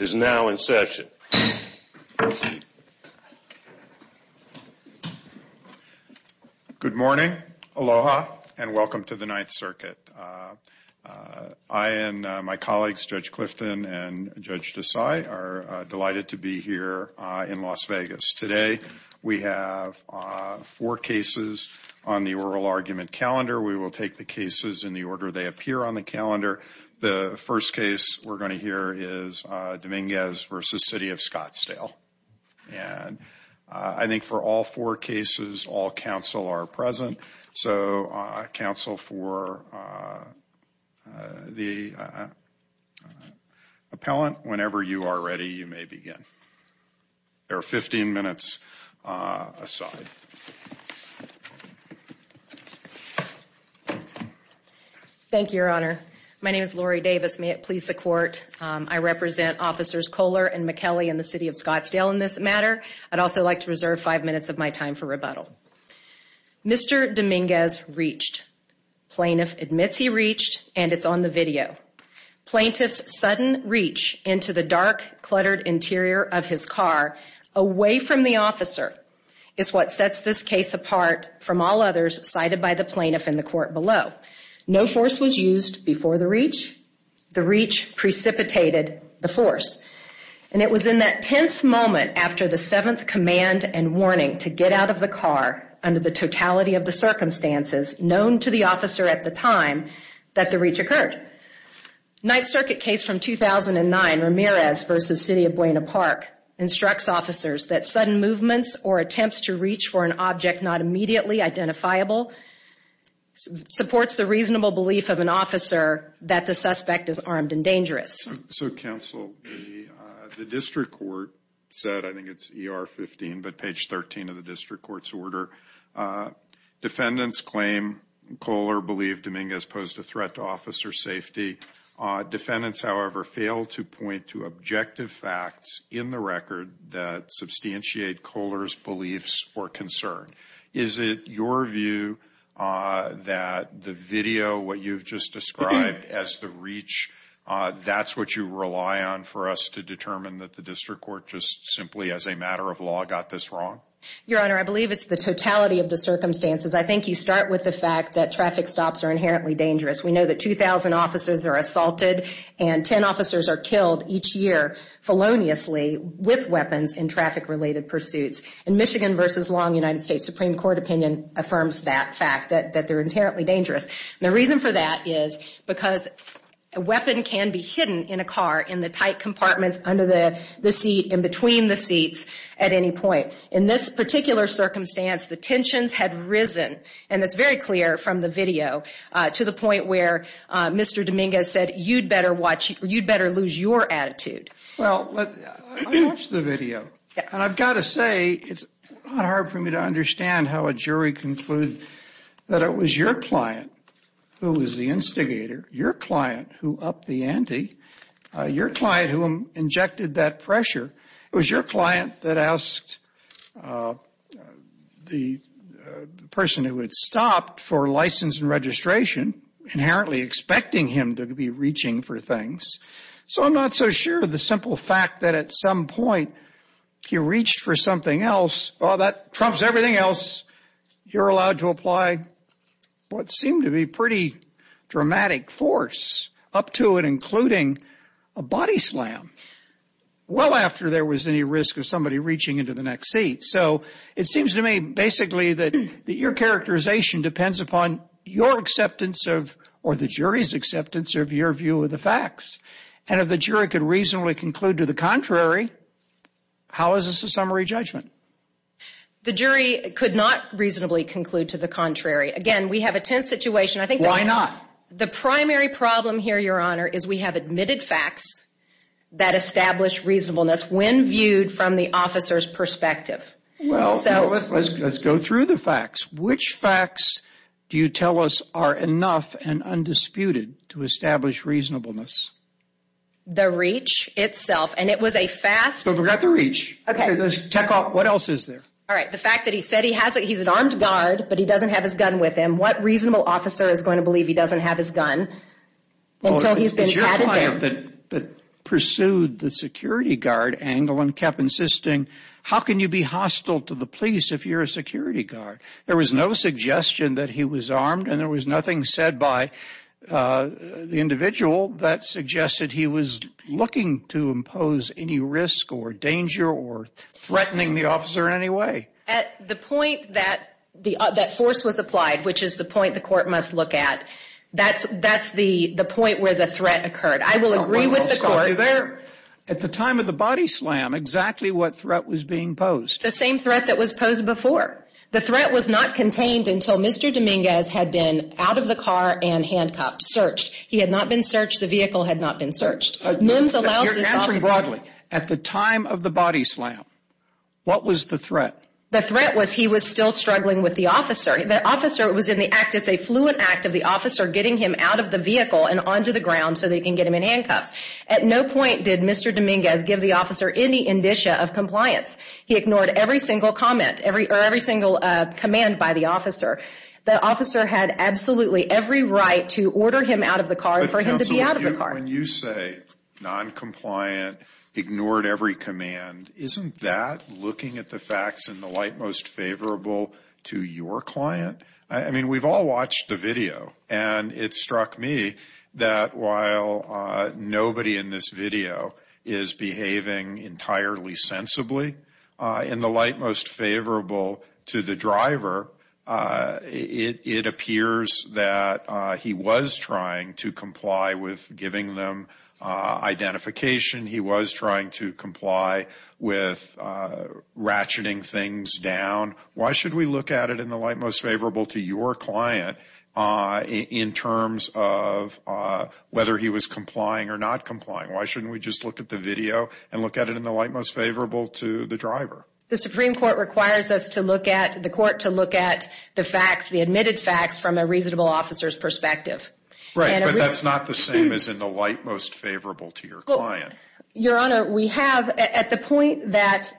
is now in session. Good morning, aloha, and welcome to the Ninth Circuit. I and my colleagues, Judge Clifton and Judge Desai, are delighted to be here in Las Vegas. Today, we have four cases on the oral argument calendar. We will take the cases in the order they appear on the calendar. The first case we're going to hear is Dominguez v. City of Scottsdale. And I think for all four cases, all counsel are present. So, counsel for the appellant, whenever you are ready, you may begin. There are 15 minutes aside. Thank you, Your Honor. My name is Lori Davis. May it please the Court, I represent Officers Kohler and McKelley in the City of Scottsdale in this matter. I'd also like to reserve five minutes of my time for rebuttal. Mr. Dominguez reached. Plaintiff admits he reached, and it's on the video. Plaintiff's sudden reach into the dark, cluttered interior of his car, away from the officer, is what sets this case apart from all others cited by the plaintiff in the court below. No force was used before the reach. The reach precipitated the force. And it was in that tense moment after the seventh command and warning to get out of the car under the totality of the circumstances known to the officer at the time that the reach occurred. The Ninth Circuit case from 2009, Ramirez v. City of Buena Park, instructs officers that sudden movements or attempts to reach for an object not immediately identifiable supports the reasonable belief of an officer that the suspect is armed and dangerous. So counsel, the district court said, I think it's ER 15, but page 13 of the district court's order, defendants claim Kohler believed Dominguez posed a threat to officer safety. Defendants, however, fail to point to objective facts in the record that substantiate Kohler's beliefs or concern. Is it your view that the video, what you've just described as the reach, that's what you rely on for us to determine that the district court just simply, as a matter of law, got this wrong? Your Honor, I believe it's the totality of the circumstances. I think you start with the fact that traffic stops are inherently dangerous. We know that 2,000 officers are assaulted and 10 officers are killed each year feloniously with weapons in traffic-related pursuits. In Michigan v. Long, United States Supreme Court opinion affirms that fact, that they're inherently dangerous. And the reason for that is because a weapon can be hidden in a car in the tight compartments under the seat, in between the seats at any point. In this particular circumstance, the tensions had risen, and it's very clear from the video, to the point where Mr. Dominguez said, you'd better watch, you'd better lose your attitude. Well, I watched the video, and I've got to say, it's not hard for me to understand how a jury concluded that it was your client who was the instigator, your client who upped the ante, your client who injected that pressure, it was your client that asked the person who had stopped for license and registration, inherently expecting him to be reaching for things. So I'm not so sure of the simple fact that at some point, he reached for something else, oh, that trumps everything else. You're allowed to apply what seemed to be pretty dramatic force up to and including a body slam, well after there was any risk of somebody reaching into the next seat. So it seems to me, basically, that your characterization depends upon your acceptance of, or the jury's acceptance of your view of the facts, and if the jury could reasonably conclude to the contrary, how is this a summary judgment? The jury could not reasonably conclude to the contrary. Again, we have a tense situation. I think that... Why not? The primary problem here, Your Honor, is we have admitted facts that establish reasonableness when viewed from the officer's perspective. Well, let's go through the facts. Which facts do you tell us are enough and undisputed to establish reasonableness? The reach itself, and it was a fast... So we've got the reach. Okay. What else is there? All right. The fact that he said he's an armed guard, but he doesn't have his gun with him. What reasonable officer is going to believe he doesn't have his gun until he's been... The client that pursued the security guard angle and kept insisting, how can you be hostile to the police if you're a security guard? There was no suggestion that he was armed, and there was nothing said by the individual that suggested he was looking to impose any risk or danger or threatening the officer in any way. At the point that force was applied, which is the point the court must look at, that's the point where the threat occurred. I will agree with the court... I'll stop you there. At the time of the body slam, exactly what threat was being posed? The same threat that was posed before. The threat was not contained until Mr. Dominguez had been out of the car and handcuffed, searched. He had not been searched. The vehicle had not been searched. MIMS allows this officer... You're answering broadly. At the time of the body slam, what was the threat? The threat was he was still struggling with the officer. The officer was in the act... It's a fluent act of the officer getting him out of the vehicle and onto the ground so they can get him in handcuffs. At no point did Mr. Dominguez give the officer any indicia of compliance. He ignored every single comment or every single command by the officer. The officer had absolutely every right to order him out of the car and for him to be out of the car. But counsel, when you say noncompliant, ignored every command, isn't that looking at the facts in the light most favorable to your client? I mean, we've all watched the video and it struck me that while nobody in this video is behaving entirely sensibly, in the light most favorable to the driver, it appears that he was trying to comply with giving them identification. He was trying to comply with ratcheting things down. Why should we look at it in the light most favorable to your client in terms of whether he was complying or not complying? Why shouldn't we just look at the video and look at it in the light most favorable to the driver? The Supreme Court requires us to look at... The court to look at the facts, the admitted facts from a reasonable officer's perspective. Right, but that's not the same as in the light most favorable to your client. Your Honor, we have at the point that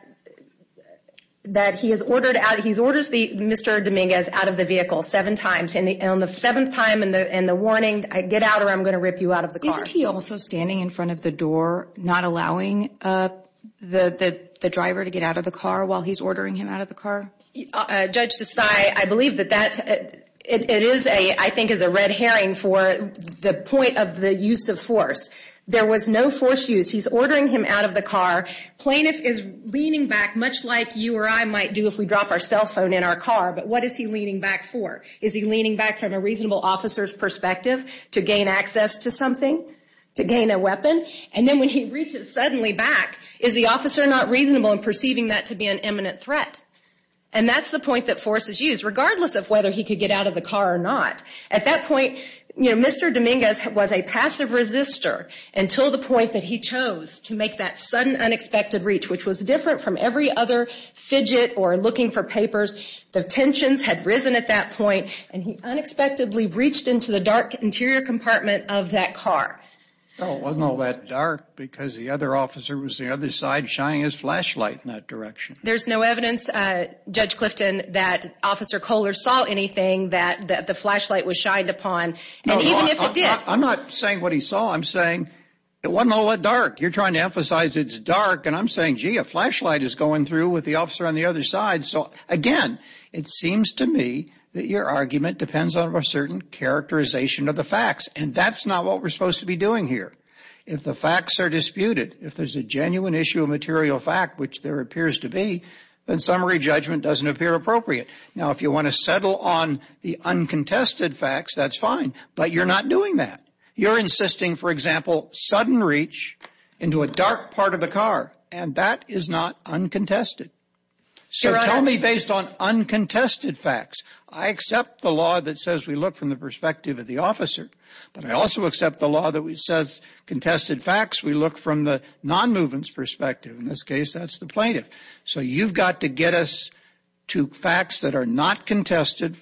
he has ordered out, he orders Mr. Dominguez out of the vehicle seven times. On the seventh time and the warning, get out or I'm going to rip you out of the car. Isn't he also standing in front of the door not allowing the driver to get out of the car while he's ordering him out of the car? Judge Desai, I believe that that... It is a... I think it's a red herring for the point of the use of force. There was no force use. He's ordering him out of the car. Plaintiff is leaning back much like you or I might do if we drop our cell phone in our car, but what is he leaning back for? Is he leaning back from a reasonable officer's perspective to gain access to something, to gain a weapon? And then when he reaches suddenly back, is the officer not reasonable in perceiving that to be an imminent threat? And that's the point that force is used, regardless of whether he could get out of the car or not. At that point, you know, Mr. Dominguez was a passive resistor until the point that he chose to make that sudden unexpected reach, which was different from every other fidget or looking for papers. The tensions had risen at that point and he unexpectedly reached into the dark interior compartment of that car. Well, it wasn't all that dark because the other officer was the other side shining his direction. There's no evidence, Judge Clifton, that Officer Kohler saw anything that the flashlight was shined upon. And even if it did... I'm not saying what he saw, I'm saying it wasn't all that dark. You're trying to emphasize it's dark and I'm saying, gee, a flashlight is going through with the officer on the other side, so again, it seems to me that your argument depends on a certain characterization of the facts and that's not what we're supposed to be doing here. If the facts are disputed, if there's a genuine issue of material fact, which there appears to be, then summary judgment doesn't appear appropriate. Now, if you want to settle on the uncontested facts, that's fine, but you're not doing that. You're insisting, for example, sudden reach into a dark part of the car and that is not uncontested. So tell me, based on uncontested facts, I accept the law that says we look from the uncontested facts, we look from the non-movement's perspective, in this case, that's the plaintiff. So you've got to get us to facts that are not contested,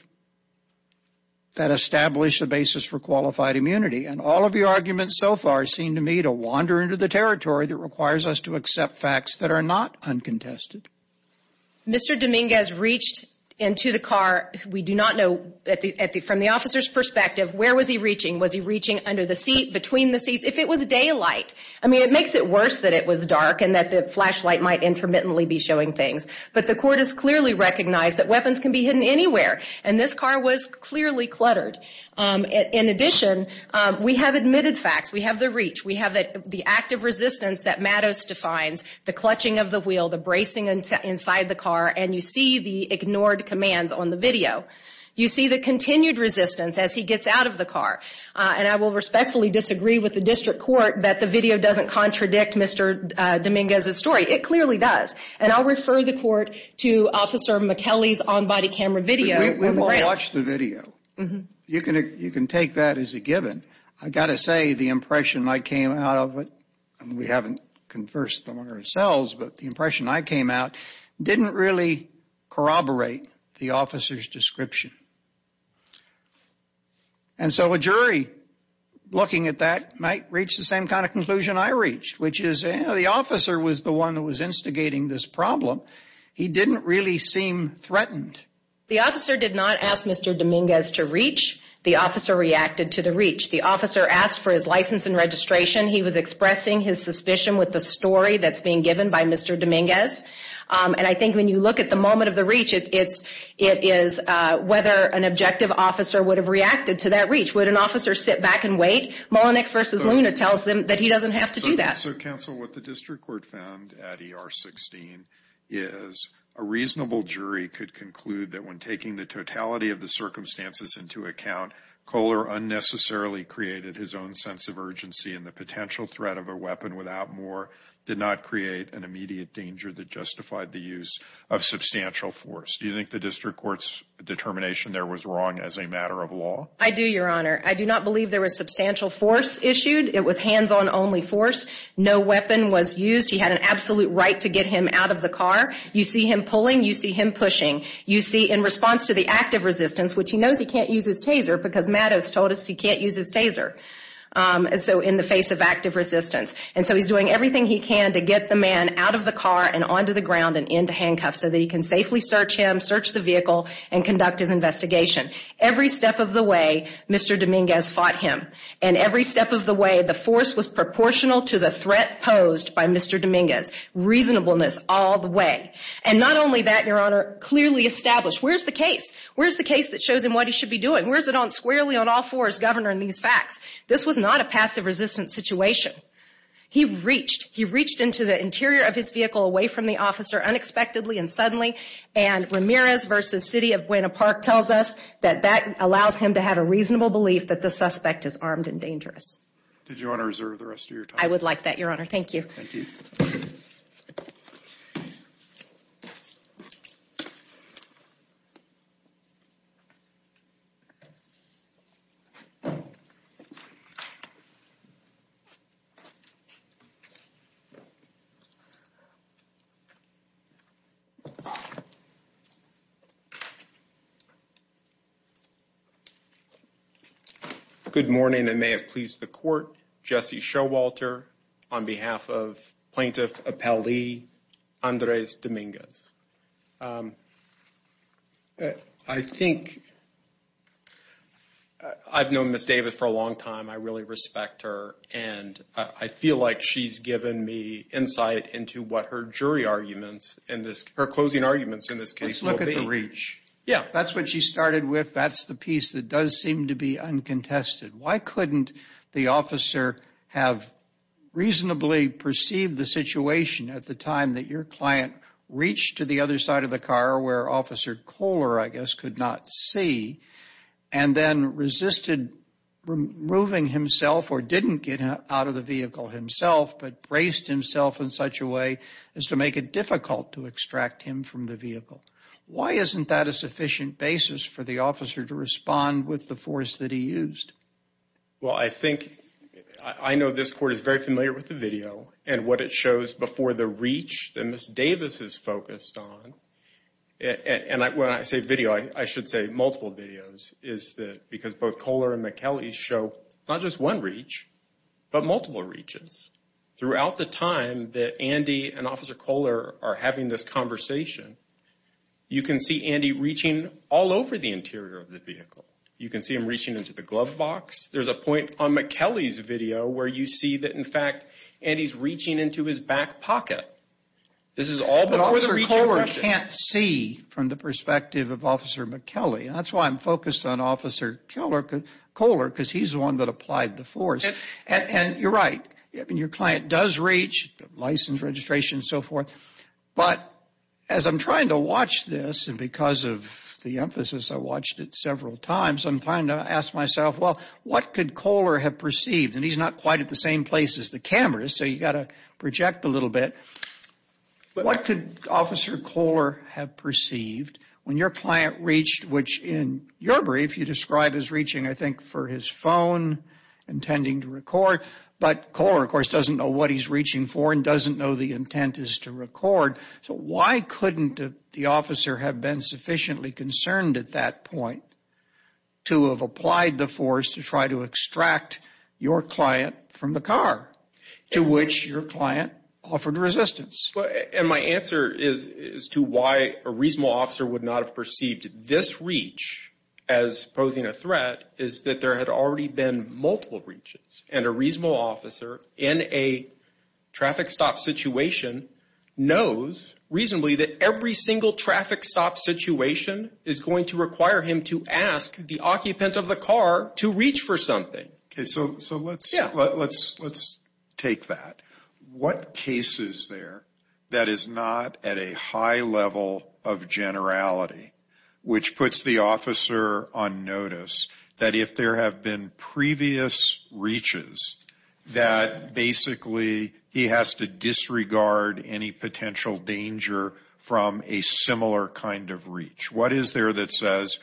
that establish a basis for qualified immunity and all of your arguments so far seem to me to wander into the territory that requires us to accept facts that are not uncontested. Mr. Dominguez reached into the car, we do not know, from the officer's perspective, where was he reaching? Was he reaching under the seat, between the seats? If it was daylight, I mean, it makes it worse that it was dark and that the flashlight might intermittently be showing things, but the court has clearly recognized that weapons can be hidden anywhere, and this car was clearly cluttered. In addition, we have admitted facts, we have the reach, we have the active resistance that Matos defines, the clutching of the wheel, the bracing inside the car, and you see the ignored commands on the video. You see the continued resistance as he gets out of the car, and I will respectfully disagree with the district court that the video doesn't contradict Mr. Dominguez's story. It clearly does, and I'll refer the court to Officer McKellie's on-body camera video. We watched the video. You can take that as a given. I've got to say the impression I came out of it, and we haven't conversed among ourselves, but the impression I came out didn't really corroborate the officer's description. And so a jury, looking at that, might reach the same kind of conclusion I reached, which is the officer was the one that was instigating this problem. He didn't really seem threatened. The officer did not ask Mr. Dominguez to reach. The officer reacted to the reach. The officer asked for his license and registration. He was expressing his suspicion with the story that's being given by Mr. Dominguez, and I don't know whether an objective officer would have reacted to that reach. Would an officer sit back and wait? Mullenix v. Luna tells them that he doesn't have to do that. So counsel, what the district court found at ER 16 is a reasonable jury could conclude that when taking the totality of the circumstances into account, Kohler unnecessarily created his own sense of urgency, and the potential threat of a weapon without more did not create an immediate danger that justified the use of substantial force. Do you think the district court's determination there was wrong as a matter of law? I do, Your Honor. I do not believe there was substantial force issued. It was hands-on only force. No weapon was used. He had an absolute right to get him out of the car. You see him pulling. You see him pushing. You see in response to the active resistance, which he knows he can't use his taser because Matt has told us he can't use his taser, so in the face of active resistance. And so he's doing everything he can to get the man out of the car and onto the ground and into handcuffs so that he can safely search him, search the vehicle, and conduct his investigation. Every step of the way, Mr. Dominguez fought him. And every step of the way, the force was proportional to the threat posed by Mr. Dominguez. Reasonableness all the way. And not only that, Your Honor, clearly established. Where's the case? Where's the case that shows him what he should be doing? Where's it on squarely on all fours, Governor, in these facts? This was not a passive resistance situation. He reached. He reached into the interior of his vehicle away from the officer unexpectedly and suddenly. And Ramirez v. City of Buena Park tells us that that allows him to have a reasonable belief that the suspect is armed and dangerous. Did you want to reserve the rest of your time? I would like that, Your Honor. Thank you. Thank you. Thank you. Good morning. And it may have pleased the court, Jesse Showalter on behalf of Plaintiff Appellee Andres Dominguez. I think I've known Ms. Davis for a long time. I really respect her. And I feel like she's given me insight into what her jury arguments and her closing arguments in this case will be. Let's look at the reach. Yeah. That's what she started with. That's the piece that does seem to be uncontested. Why couldn't the officer have reasonably perceived the situation at the time that your client reached to the other side of the car where Officer Kohler, I guess, could not see and then resisted removing himself or didn't get out of the vehicle himself but braced himself in such a way as to make it difficult to extract him from the vehicle? Why isn't that a sufficient basis for the officer to respond with the force that he used? Well, I think, I know this court is very familiar with the video and what it shows before the reach that Ms. Davis is focused on. And when I say video, I should say multiple videos, is that because both Kohler and McKellie show not just one reach, but multiple reaches throughout the time that Andy and Officer Kohler had this conversation. You can see Andy reaching all over the interior of the vehicle. You can see him reaching into the glove box. There's a point on McKellie's video where you see that, in fact, Andy's reaching into his back pocket. This is all before the reach. But Officer Kohler can't see from the perspective of Officer McKellie. That's why I'm focused on Officer Kohler because he's the one that applied the force. And you're right. I mean, your client does reach, license registration and so forth. But as I'm trying to watch this, and because of the emphasis, I watched it several times, I'm trying to ask myself, well, what could Kohler have perceived? And he's not quite at the same place as the camera, so you got to project a little bit. What could Officer Kohler have perceived when your client reached, which in your brief, you describe as reaching, I think, for his phone, intending to record. But Kohler, of course, doesn't know what he's reaching for and doesn't know the intent is to record. So why couldn't the officer have been sufficiently concerned at that point to have applied the force to try to extract your client from the car, to which your client offered resistance? And my answer is to why a reasonable officer would not have perceived this reach as posing a threat is that there had already been multiple reaches. And a reasonable officer in a traffic stop situation knows reasonably that every single traffic stop situation is going to require him to ask the occupant of the car to reach for something. Okay, so let's take that. What case is there that is not at a high level of generality, which puts the officer on notice that if there have been previous reaches, that basically he has to disregard any potential danger from a similar kind of reach? What is there that says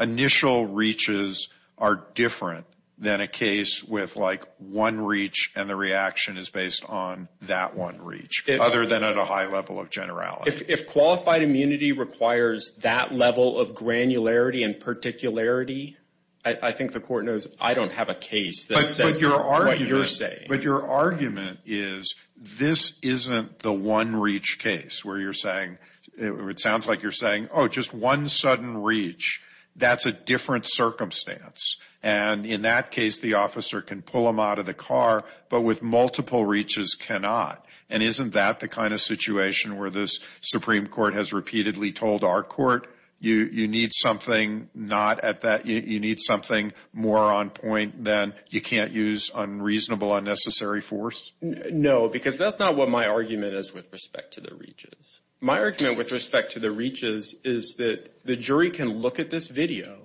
initial reaches are different than a case with like one reach and the reaction is based on that one reach, other than at a high level of generality? If qualified immunity requires that level of granularity and particularity, I think the court knows I don't have a case that says what you're saying. But your argument is this isn't the one reach case where you're saying, or it sounds like you're saying, oh, just one sudden reach. That's a different circumstance. And in that case, the officer can pull him out of the car, but with multiple reaches cannot. And isn't that the kind of situation where this Supreme Court has repeatedly told our court, you need something not at that, you need something more on point than you can't use unreasonable, unnecessary force? No, because that's not what my argument is with respect to the reaches. My argument with respect to the reaches is that the jury can look at this video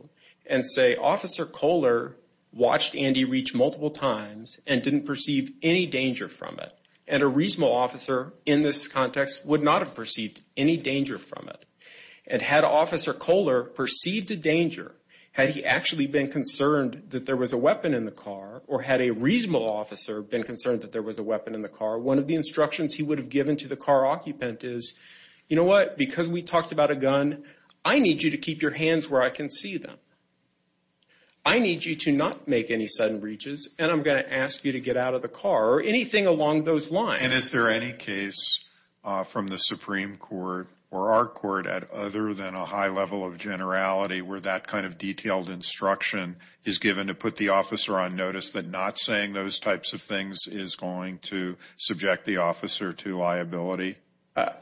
and say, Officer Kohler watched Andy reach multiple times and didn't perceive any danger from it. And a reasonable officer in this context would not have perceived any danger from it. And had Officer Kohler perceived a danger, had he actually been concerned that there was a weapon in the car, or had a reasonable officer been concerned that there was a weapon in the car, one of the instructions he would have given to the car occupant is, you know what, because we talked about a gun, I need you to keep your hands where I can see them. I need you to not make any sudden reaches, and I'm going to ask you to get out of the car, or anything along those lines. And is there any case from the Supreme Court, or our court, other than a high level of generality where that kind of detailed instruction is given to put the officer on notice that not saying those types of things is going to subject the officer to liability?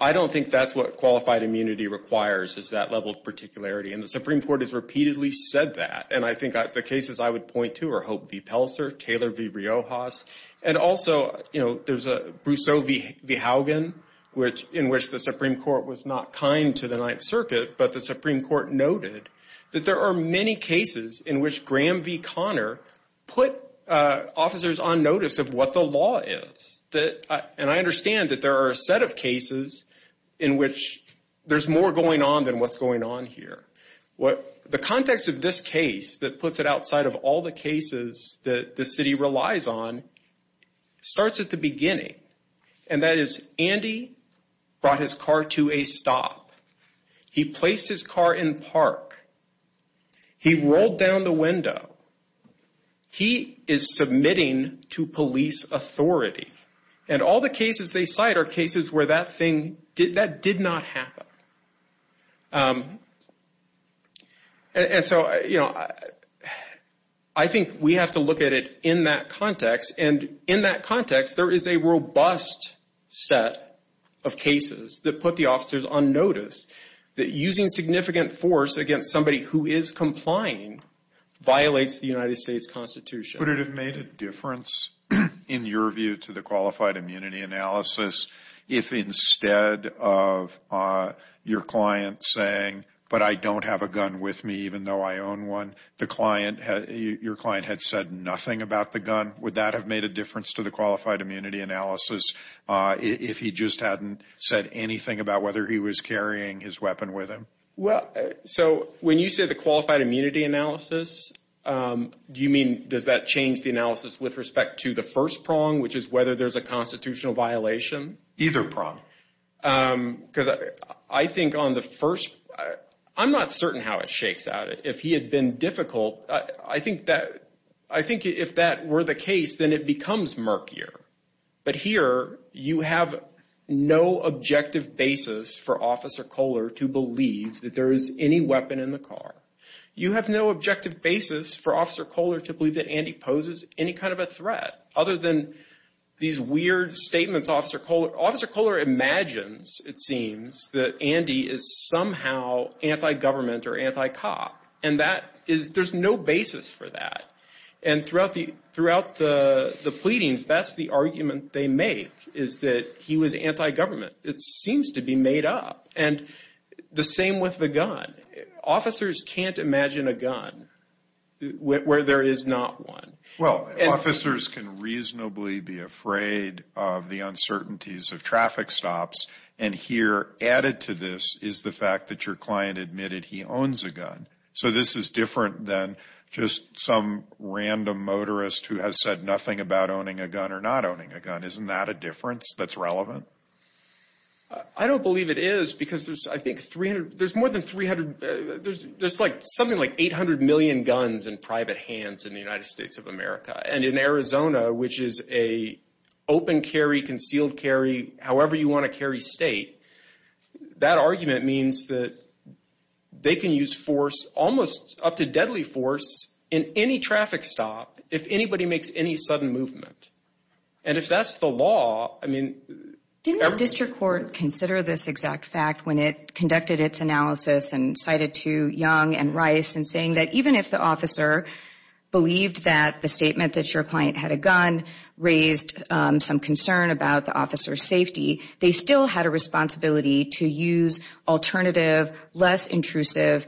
I don't think that's what qualified immunity requires, is that level of particularity. And the Supreme Court has repeatedly said that. And I think the cases I would point to are Hope v. Pelser, Taylor v. Riojas. And also, you know, there's a Brousseau v. Haugen, in which the Supreme Court was not kind to the Ninth Circuit, but the Supreme Court noted that there are many cases in which Graham v. Connor put officers on notice of what the law is. And I understand that there are a set of cases in which there's more going on than what's going on here. The context of this case that puts it outside of all the cases that the city relies on starts at the beginning. And that is, Andy brought his car to a stop. He placed his car in park. He rolled down the window. He is submitting to police authority. And all the cases they cite are cases where that thing, that did not happen. And so, you know, I think we have to look at it in that context. And in that context, there is a robust set of cases that put the officers on notice that using significant force against somebody who is complying violates the United States Constitution. Would it have made a difference, in your view, to the qualified immunity analysis if instead of your client saying, but I don't have a gun with me even though I own one, the client, your client had said nothing about the gun? Would that have made a difference to the qualified immunity analysis if he just hadn't said anything about whether he was carrying his weapon with him? Well, so when you say the qualified immunity analysis, do you mean does that change the analysis with respect to the first prong, which is whether there's a constitutional violation? Either prong. Because I think on the first, I'm not certain how it shakes out. If he had been difficult, I think that, I think if that were the case, then it becomes murkier. But here, you have no objective basis for Officer Kohler to believe that there is any weapon in the car. You have no objective basis for Officer Kohler to believe that Andy poses any kind of a threat. Other than these weird statements Officer Kohler, Officer Kohler imagines, it seems, that Andy is somehow anti-government or anti-cop. And that is, there's no basis for that. And throughout the pleadings, that's the argument they make, is that he was anti-government. It seems to be made up. And the same with the gun. Officers can't imagine a gun where there is not one. Well, officers can reasonably be afraid of the uncertainties of traffic stops. And here, added to this, is the fact that your client admitted he owns a gun. So this is different than just some random motorist who has said nothing about owning a gun or not owning a gun. Isn't that a difference that's relevant? I don't believe it is, because there's, I think, 300, there's more than 300, there's like, something like 800 million guns in private hands in the United States of America. And in Arizona, which is a open carry, concealed carry, however you want to carry state, that argument means that they can use force, almost up to deadly force, in any traffic stop if anybody makes any sudden movement. And if that's the law, I mean. Didn't the district court consider this exact fact when it conducted its analysis and cited to Young and Rice in saying that even if the officer believed that the statement that your client had a gun raised some concern about the officer's safety, they still had a responsibility to use alternative, less intrusive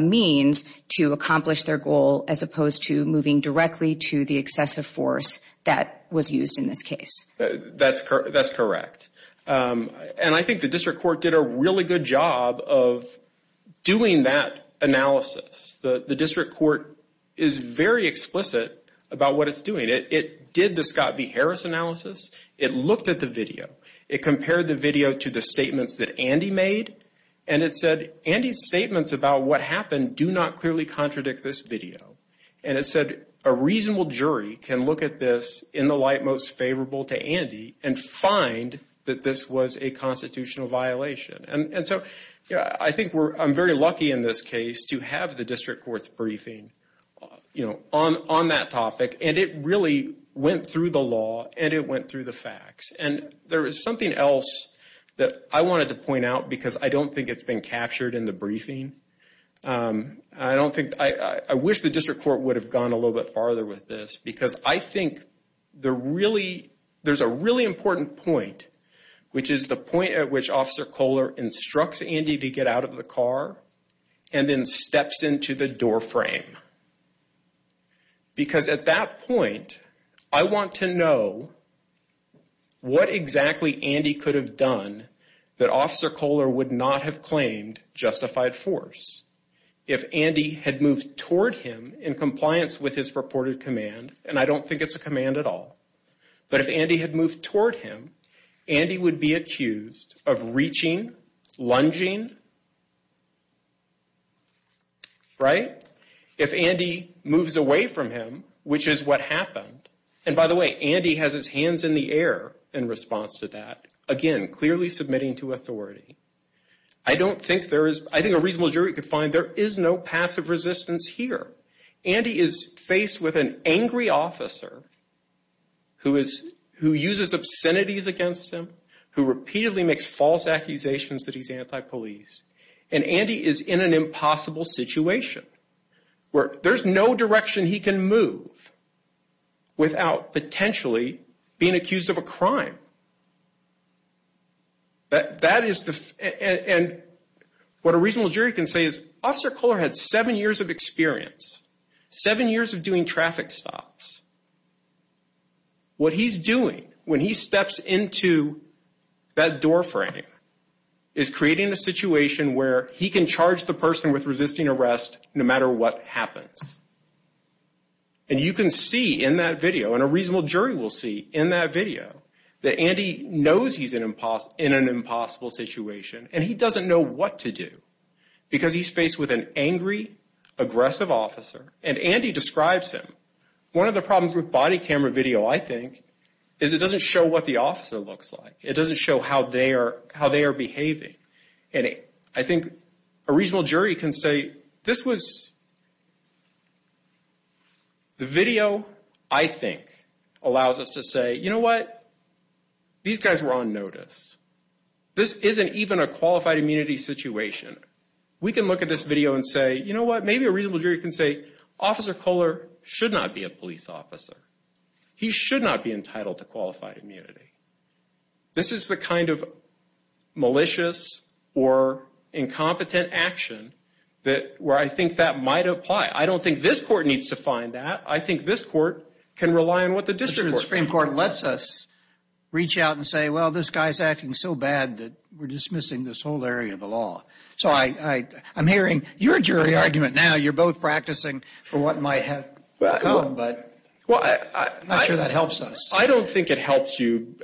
means to accomplish their goal as opposed to moving directly to the excessive force that was used in this case. That's correct. And I think the district court did a really good job of doing that analysis. The district court is very explicit about what it's doing. It did the Scott v. Harris analysis. It looked at the video. It compared the video to the statements that Andy made. And it said, Andy's statements about what happened do not clearly contradict this video. And it said a reasonable jury can look at this in the light most favorable to Andy and find that this was a constitutional violation. And so I think we're, I'm very lucky in this case to have the district court's briefing, you know, on that topic. And it really went through the law and it went through the facts. And there is something else that I wanted to point out because I don't think it's been captured in the briefing. I don't think, I wish the district court would have gone a little bit farther with this because I think the really, there's a really important point which is the point at which Officer Kohler instructs Andy to get out of the car and then steps into the doorframe. Because at that point, I want to know what exactly Andy could have done that Officer Kohler would not have claimed justified force. If Andy had moved toward him in compliance with his reported command, and I don't think it's a command at all. But if Andy had moved toward him, Andy would be accused of reaching, lunging, right? If Andy moves away from him, which is what happened, and by the way, Andy has his hands in the air in response to that. Again, clearly submitting to authority. I don't think there is, I think a reasonable jury could find there is no passive resistance here. Andy is faced with an angry officer who is, who uses obscenities against him, who repeatedly makes false accusations that he's anti-police. And Andy is in an impossible situation where there's no direction he can move without potentially being accused of a crime. That, that is the, and what a reasonable jury can say is Officer Kohler had seven years of experience, seven years of doing traffic stops. What he's doing when he steps into that doorframe is creating a situation where he can charge the person with resisting arrest no matter what happens. And you can see in that video, and a reasonable jury will see in that video, that Andy knows he's in an impossible situation, and he doesn't know what to do. Because he's faced with an angry, aggressive officer. And Andy describes him. One of the problems with body camera video, I think, is it doesn't show what the officer looks like. It doesn't show how they are, how they are behaving. And I think a reasonable jury can say, this was, the video, I think, allows us to say, you know what, these guys were on notice. This isn't even a qualified immunity situation. We can look at this video and say, you know what, maybe a reasonable jury can say Officer Kohler should not be a police officer. He should not be entitled to qualified immunity. This is the kind of malicious or incompetent action that, where I think that might apply. I don't think this court needs to find that. I think this court can rely on what the district court can do. The Supreme Court lets us reach out and say, well, this guy's acting so bad that we're dismissing this whole area of the law. So I'm hearing your jury argument now. You're both practicing for what might have come, but I'm not sure that helps us. I don't think it helps you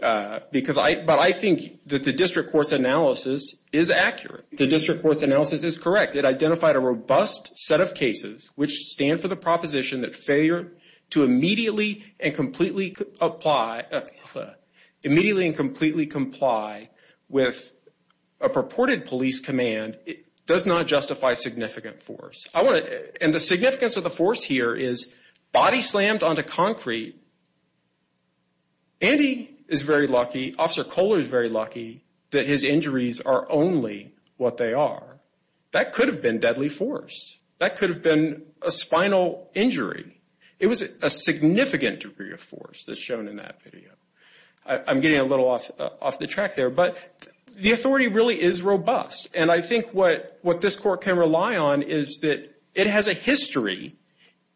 because I, but I think that the district court's analysis is accurate. The district court's analysis is correct. It identified a robust set of cases which stand for the proposition that failure to immediately and completely apply, immediately and completely comply with a purported police command does not justify significant force. I want to, and the significance of the force here is body slammed onto concrete. Andy is very lucky, Officer Kohler is very lucky that his injuries are only what they are. That could have been deadly force. That could have been a spinal injury. It was a significant degree of force that's shown in that video. I'm getting a little off the track there, but the authority really is robust, and I think what this court can rely on is that it has a history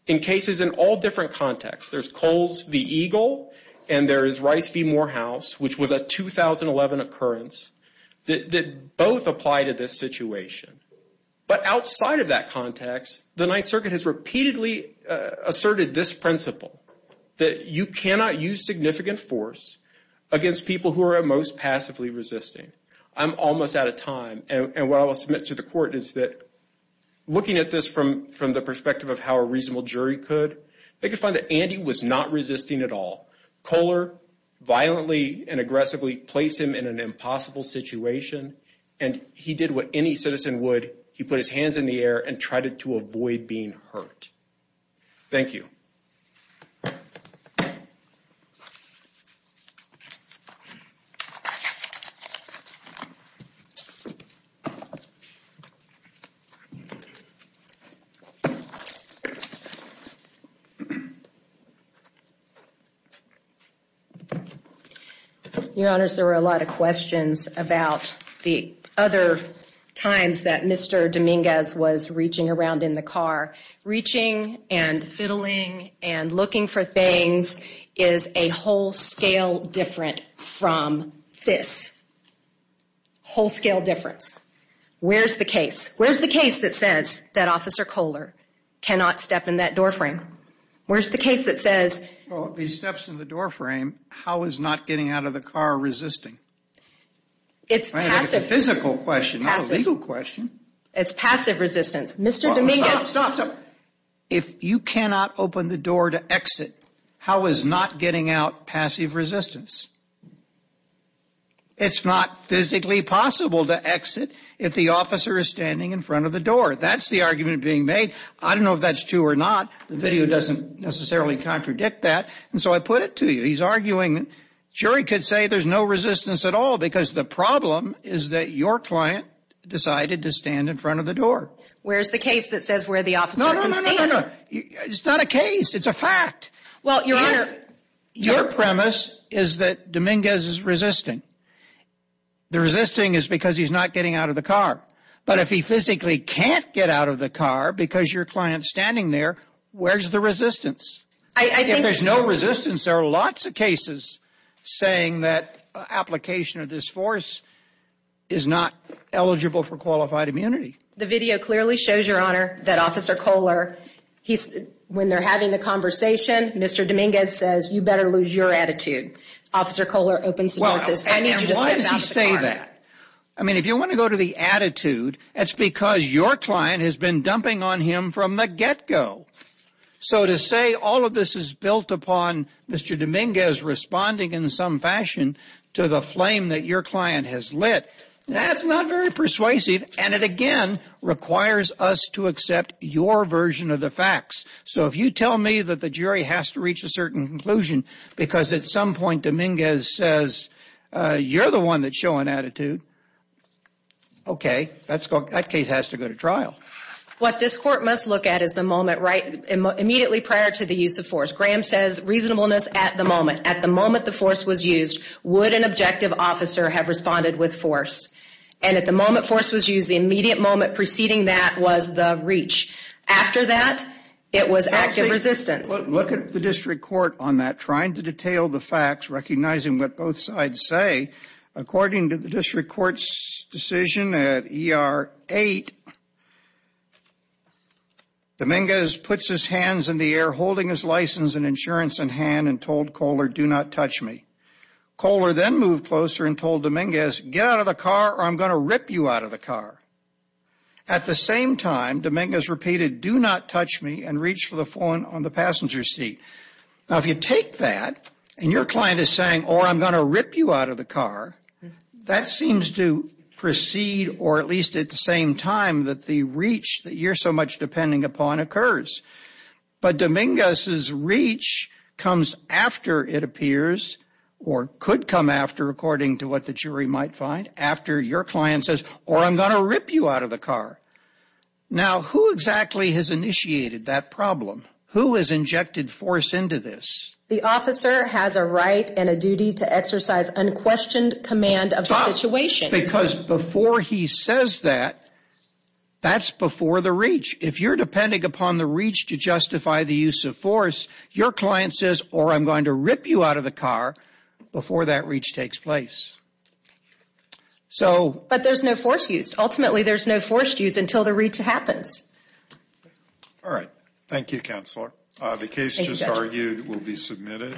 in cases in all different contexts. There's Coles v. Eagle, and there is Rice v. Morehouse, which was a 2011 occurrence, that both apply to this situation. But outside of that context, the Ninth Circuit has repeatedly asserted this principle, that you cannot use significant force against people who are most passively resisting. I'm almost out of time, and what I will submit to the court is that looking at this from the perspective of how a reasonable jury could, they could find that Andy was not resisting at all. Kohler violently and aggressively placed him in an impossible situation, and he did what any citizen would. He put his hands in the air and tried to avoid being hurt. Thank you. Your Honors, there were a lot of questions about the other times that Mr. Dominguez was reaching around in the car. Reaching and fiddling and looking for things is a whole scale different from this. Whole scale difference. Where's the case? Where's the case that says that Officer Kohler cannot step in that doorframe? Where's the case that says... Well, if he steps in the doorframe, how is not getting out of the car resisting? It's passive. It's a physical question, not a legal question. It's passive resistance. Mr. Dominguez... Stop, stop, stop. If you cannot open the door to exit, how is not getting out passive resistance? It's not physically possible to exit if the officer is standing in front of the door. That's the argument being made. I don't know if that's true or not. The video doesn't necessarily contradict that, and so I put it to you. He's arguing the jury could say there's no resistance at all because the problem is that your client decided to stand in front of the door. Where's the case that says where the officer can stand? No, no, no, no, no. It's not a case. It's a fact. Well, your... If your premise is that Dominguez is resisting, the resisting is because he's not getting out of the car. But if he physically can't get out of the car because your client's standing there, where's the resistance? I think... If there's no resistance, there are lots of cases saying that application of this force is not eligible for qualified immunity. The video clearly shows, Your Honor, that Officer Kohler, he's... When they're having the conversation, Mr. Dominguez says, you better lose your attitude. Officer Kohler opens the door and says, I need you to step out of the car. And why does he say that? I mean, if you want to go to the attitude, it's because your client has been dumping on him from the get-go. So to say all of this is built upon Mr. Dominguez responding in some fashion to the flame that your client has lit, that's not very persuasive. And it, again, requires us to accept your version of the facts. So if you tell me that the jury has to reach a certain conclusion, because at some point Dominguez says, you're the one that's showing attitude, okay, that case has to go to trial. What this Court must look at is the moment immediately prior to the use of force. Graham says reasonableness at the moment. At the moment the force was used, would an objective officer have responded with force? And at the moment force was used, the immediate moment preceding that was the reach. After that, it was active resistance. Look at the District Court on that, trying to detail the facts, recognizing what both sides say. According to the District Court's decision at ER 8, Dominguez puts his hands in the air, holding his license and insurance in hand, and told Kohler, do not touch me. Kohler then moved closer and told Dominguez, get out of the car or I'm going to rip you out of the car. At the same time, Dominguez repeated, do not touch me, and reached for the phone on the passenger seat. Now if you take that, and your client is saying, or I'm going to rip you out of the car, that seems to precede, or at least at the same time, that the reach that you're so much depending upon occurs. But Dominguez's reach comes after it appears, or could come after according to what the jury might find, after your client says, or I'm going to rip you out of the car. Now who exactly has initiated that problem? Who has injected force into this? The officer has a right and a duty to exercise unquestioned command of the situation. Because before he says that, that's before the reach. If you're depending upon the reach to justify the use of force, your client says, or I'm going to rip you out of the car, before that reach takes place. So... But there's no force used. Ultimately there's no force used until the reach happens. All right. Thank you, Counselor. The case just argued will be submitted.